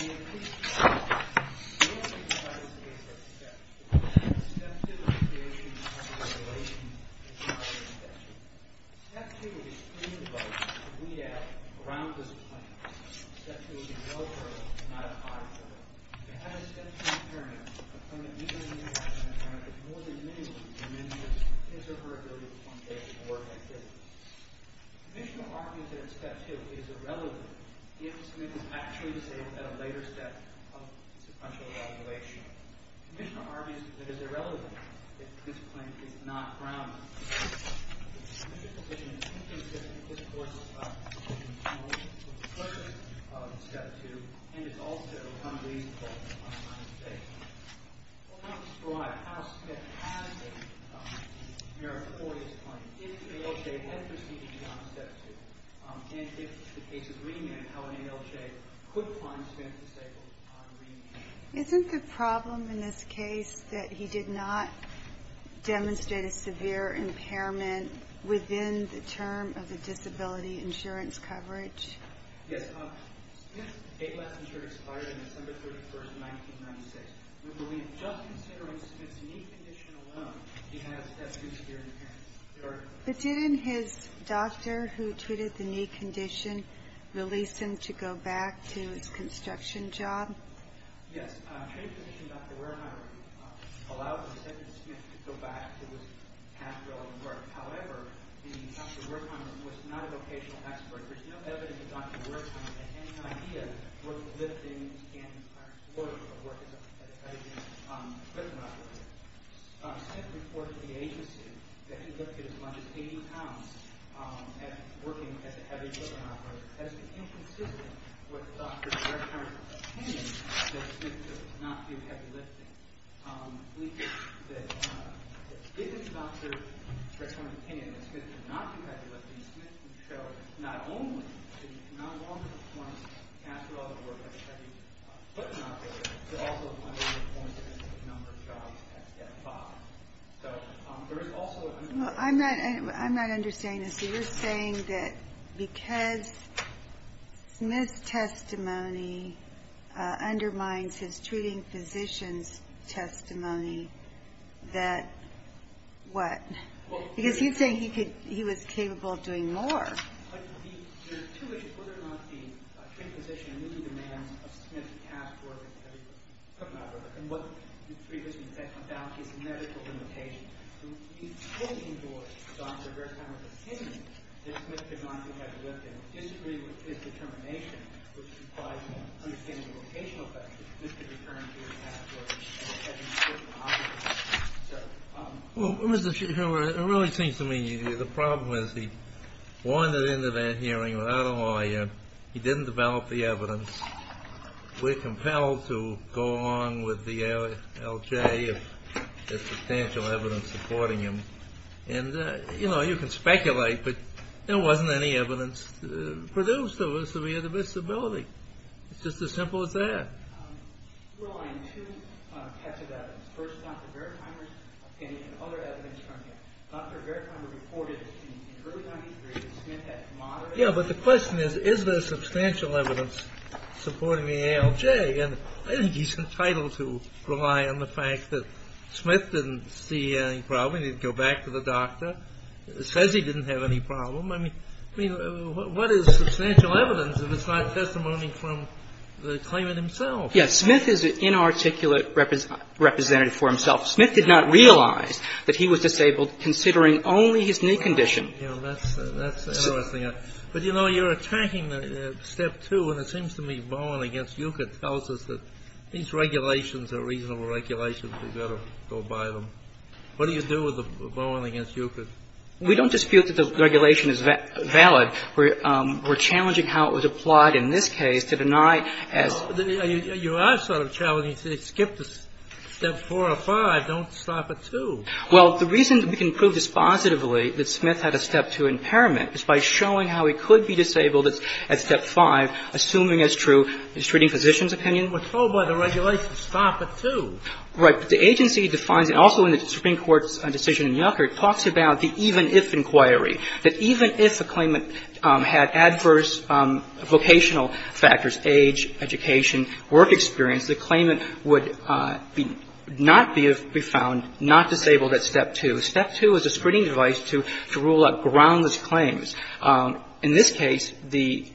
In the case of Step 2, Step 2 is a creation of a regulation that is not an exception. Step 2 would be extremely vital to weed out around this plant. Step 2 would be no further than not a five-footer. If you had a Step 2 parent, a parent either in the United States or Canada, more than minimally diminishes his or her ability to participate in work activities. The Commissioner argues that Step 2 is irrelevant, given Smith is actually disabled at a later step of sequential evaluation. The Commissioner argues that it is irrelevant that this plant is not grounded. The Commissioner's position is inconsistent with this Court's opinion on the purpose of Step 2 and is also unreasonable on its basis. The Court would not describe how Smith has a merit for his claim if ALJ had preceded him on Step 2 and if the case was remanded, how an ALJ could find Smith disabled on remand. Is it the problem in this case that he did not demonstrate a severe impairment within the term of the disability insurance coverage? But didn't his doctor who treated the knee condition release him to go back to his construction job? Yes. The trained physician Dr. Wertheimer allowed his assistant Smith to go back to his past relevant work. However, Dr. Wertheimer was not a vocational expert. There is no evidence that Dr. Wertheimer had any idea what the lifting and work of work as a heavy equipment operator. Smith reported to the agency that he lifted as much as 80 pounds working as a heavy equipment operator. Has it been consistent with Dr. Wertheimer's opinion that Smith did not do heavy lifting? We think that if it's Dr. Wertheimer's opinion that Smith did not do heavy lifting, Smith would show not only that he could no longer perform after all the work of a heavy equipment operator, but also the number of jobs at Step 5. I'm not understanding this. You're saying that because Smith's testimony undermines his treating physician's testimony that what? Because he's saying he was capable of doing more. There are two issues. One is whether or not the trained physician knew the demands of Smith's past work as a heavy equipment operator and what was previously said about his medical limitations. So he's holding for Dr. Wertheimer's opinion that Smith did not do heavy lifting, disagreeing with his determination, which implies an understanding of vocational factors, Mr. returned to his past work as a heavy equipment operator. Well, it really seems to me the problem is he wandered into that hearing without a lawyer. He didn't develop the evidence. We're compelled to go along with the LJ if there's substantial evidence supporting him. And, you know, you can speculate, but there wasn't any evidence produced of his severe disability. It's just as simple as that. I'm relying on two types of evidence. First, Dr. Wertheimer's opinion and other evidence from him. Dr. Wertheimer reported that in the early 90s, Smith had moderate… Yeah, but the question is, is there substantial evidence supporting the ALJ? And I think he's entitled to rely on the fact that Smith didn't see any problem. He didn't go back to the doctor. It says he didn't have any problem. I mean, what is substantial evidence if it's not testimony from the claimant himself? Yes. Smith is an inarticulate representative for himself. Smith did not realize that he was disabled considering only his knee condition. Yeah, that's interesting. But, you know, you're attacking step two, and it seems to me Bowen against Ukert tells us that these regulations are reasonable regulations. We'd better go by them. What do you do with Bowen against Ukert? We don't dispute that the regulation is valid. We're challenging how it was applied in this case to deny as… You are sort of challenging to skip the step four or five, don't stop at two. Well, the reason we can prove dispositively that Smith had a step two impairment is by showing how he could be disabled at step five, assuming as true the treating physician's opinion. We're told by the regulation, stop at two. Right. The agency defines, and also in the Supreme Court's decision in Ukert, talks about the even if inquiry, that even if a claimant had adverse vocational factors, age, education, work experience, the claimant would not be found not disabled at step two. Step two is a screening device to rule out groundless claims. In this case, the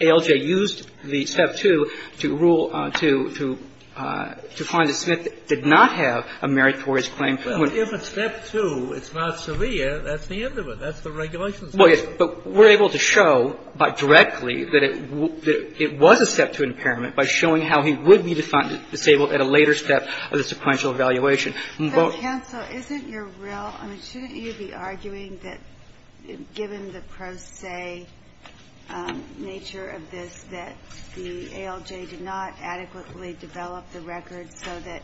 ALJ used the step two to rule to find that Smith did not have a disability or did not have a meritorious claim. Well, if it's step two, it's not severe, that's the end of it. That's the regulation. Well, yes, but we're able to show directly that it was a step two impairment by showing how he would be disabled at a later step of the sequential evaluation. So, counsel, isn't your real – I mean, shouldn't you be arguing that, given the pro se nature of this, that the ALJ did not adequately develop the record so that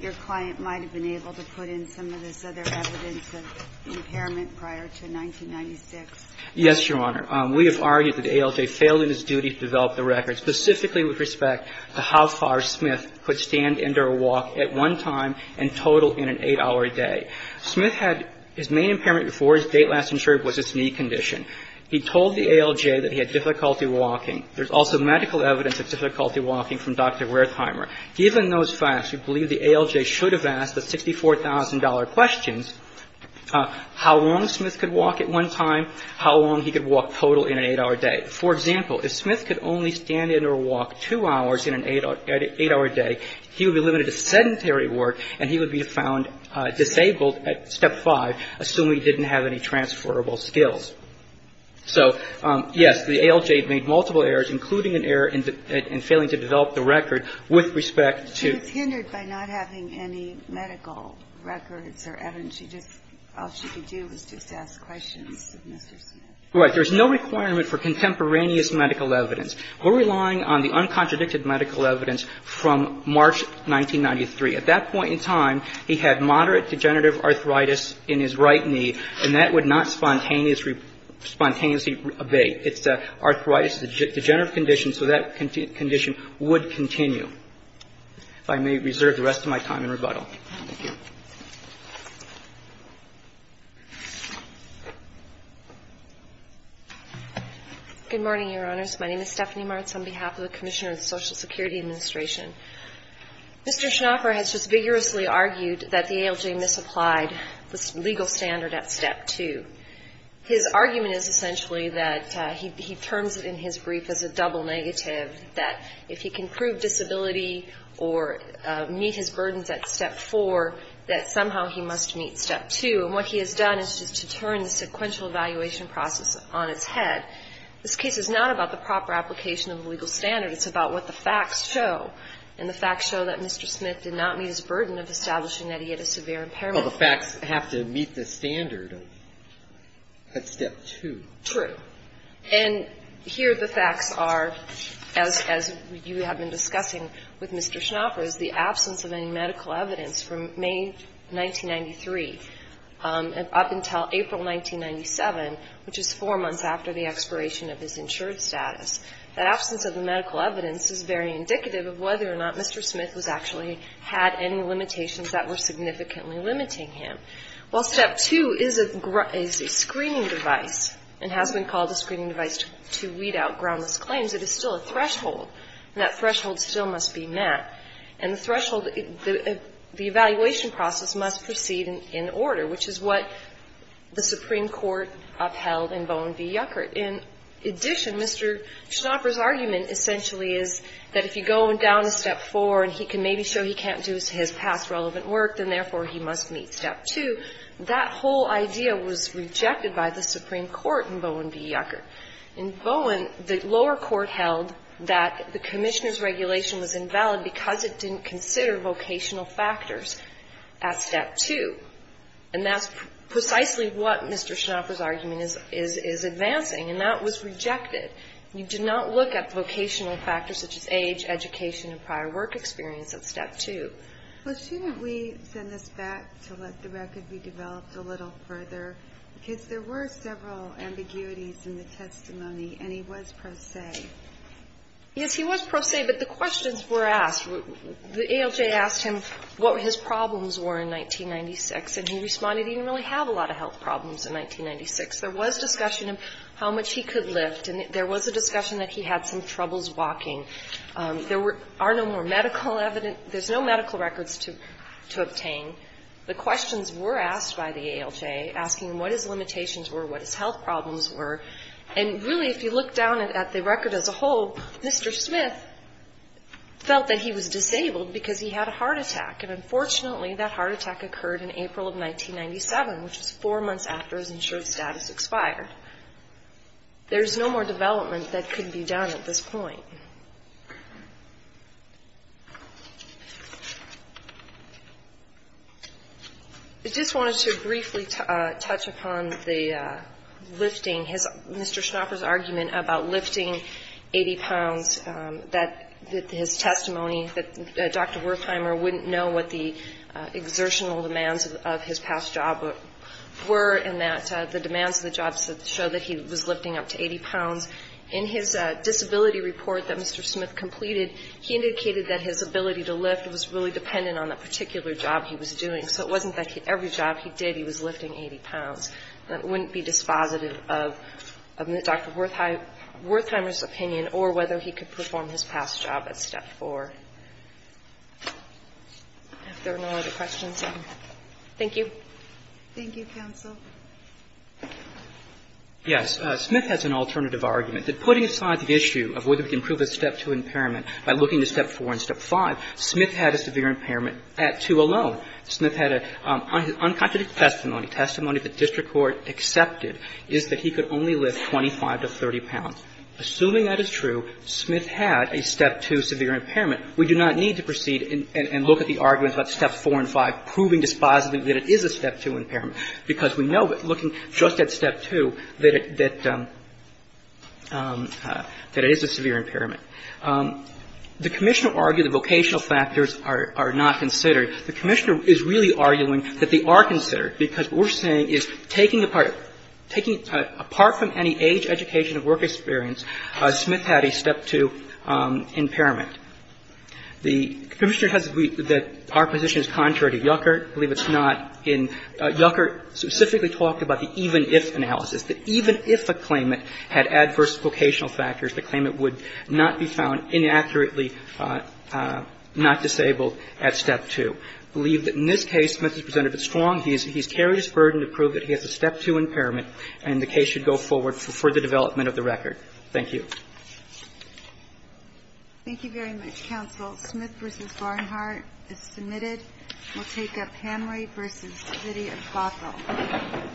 your client might have been able to put in some of this other evidence of impairment prior to 1996? Yes, Your Honor. We have argued that the ALJ failed in its duty to develop the record, specifically with respect to how far Smith could stand and or walk at one time in total in an 8-hour day. Smith had his main impairment before his date last insured was his knee condition. He told the ALJ that he had difficulty walking. There's also medical evidence of difficulty walking from Dr. Wertheimer. Given those facts, we believe the ALJ should have asked the $64,000 questions how long Smith could walk at one time, how long he could walk total in an 8-hour day. For example, if Smith could only stand and or walk 2 hours in an 8-hour day, he would be limited to sedentary work and he would be found disabled at step five, assuming he didn't have any transferable skills. So, yes, the ALJ made multiple errors, including an error in failing to develop the record with respect to. But it's hindered by not having any medical records or evidence. All she could do was just ask questions of Mr. Smith. Right. There's no requirement for contemporaneous medical evidence. We're relying on the uncontradicted medical evidence from March 1993. At that point in time, he had moderate degenerative arthritis in his right knee, and that would not spontaneously abate. It's an arthritis degenerative condition, so that condition would continue. If I may reserve the rest of my time in rebuttal. Thank you. Good morning, Your Honors. My name is Stephanie Martz on behalf of the Commissioner of the Social Security Administration. Mr. Schnaufer has just vigorously argued that the ALJ misapplied the legal standard at step two. His argument is essentially that he terms it in his brief as a double negative, that if he can prove disability or meet his burdens at step four, that somehow he must meet step two. And what he has done is just to turn the sequential evaluation process on its head. This case is not about the proper application of the legal standard. It's about what the facts show. And the facts show that Mr. Smith did not meet his burden of establishing that he had a severe impairment. Well, the facts have to meet the standard at step two. True. And here the facts are, as you have been discussing with Mr. Schnaufer, is the absence of any medical evidence from May 1993 up until April 1997, which is four months after the expiration of his insured status. The absence of the medical evidence is very indicative of whether or not Mr. impairment is indicative of the limitations that were significantly limiting him. While step two is a screening device and has been called a screening device to weed out groundless claims, it is still a threshold. And that threshold still must be met. And the threshold, the evaluation process must proceed in order, which is what the If Mr. Smith has passed relevant work, then therefore he must meet step two. That whole idea was rejected by the Supreme Court in Bowen v. Yucker. In Bowen, the lower court held that the Commissioner's regulation was invalid because it didn't consider vocational factors at step two. And that's precisely what Mr. Schnaufer's argument is advancing. And that was rejected. You do not look at vocational factors such as age, education and prior work experience at step two. Well, shouldn't we send this back to let the record be developed a little further? Because there were several ambiguities in the testimony, and he was pro se. Yes, he was pro se, but the questions were asked. The ALJ asked him what his problems were in 1996, and he responded he didn't really have a lot of health problems in 1996. There was discussion of how much he could lift, and there was a discussion that he had some troubles walking. There are no more medical evidence, there's no medical records to obtain. The questions were asked by the ALJ, asking him what his limitations were, what his health problems were. And, really, if you look down at the record as a whole, Mr. Smith felt that he was disabled because he had a heart attack. And, unfortunately, that heart attack occurred in April of 1997, which is four months after his insured status expired. There's no more development that could be done at this point. I just wanted to briefly touch upon the lifting, Mr. Schnopper's argument about lifting 80 pounds, that his testimony, that Dr. Wertheimer wouldn't know what the exertional demands of his past job were, and that the demands of the job show that he was lifting up to 80 pounds. In his disability report that Mr. Smith completed, he indicated that his ability to lift was really dependent on the particular job he was doing. So it wasn't that every job he did he was lifting 80 pounds. It wouldn't be dispositive of Dr. Wertheimer's opinion or whether he could perform his past job at Step 4. If there are no other questions, thank you. Thank you, counsel. Yes. Smith has an alternative argument. That putting aside the issue of whether we can prove a Step 2 impairment by looking to Step 4 and Step 5, Smith had a severe impairment at 2 alone. Smith had an unconstituted testimony, testimony that district court accepted, is that he could only lift 25 to 30 pounds. Assuming that is true, Smith had a Step 2 severe impairment. We do not need to proceed and look at the arguments about Step 4 and 5, proving dispositively that it is a Step 2 impairment, because we know looking just at Step 2 that it is a severe impairment. The Commissioner argued the vocational factors are not considered. The Commissioner is really arguing that they are considered, because what we're saying is taking apart, taking apart from any age, education or work experience, Smith had a Step 2 impairment. The Commissioner has agreed that our position is contrary to Yuckert. I believe it's not in – Yuckert specifically talked about the even-if analysis, that even if a claimant had adverse vocational factors, the claimant would not be found inaccurately not disabled at Step 2. I believe that in this case, Smith has presented it strong. He's carried his burden to prove that he has a Step 2 impairment, and the case should go forward for further development of the record. Thank you. Thank you very much, counsel. Smith v. Barnhart is submitted. We'll take up Hamrey v. Zitti of Gothel.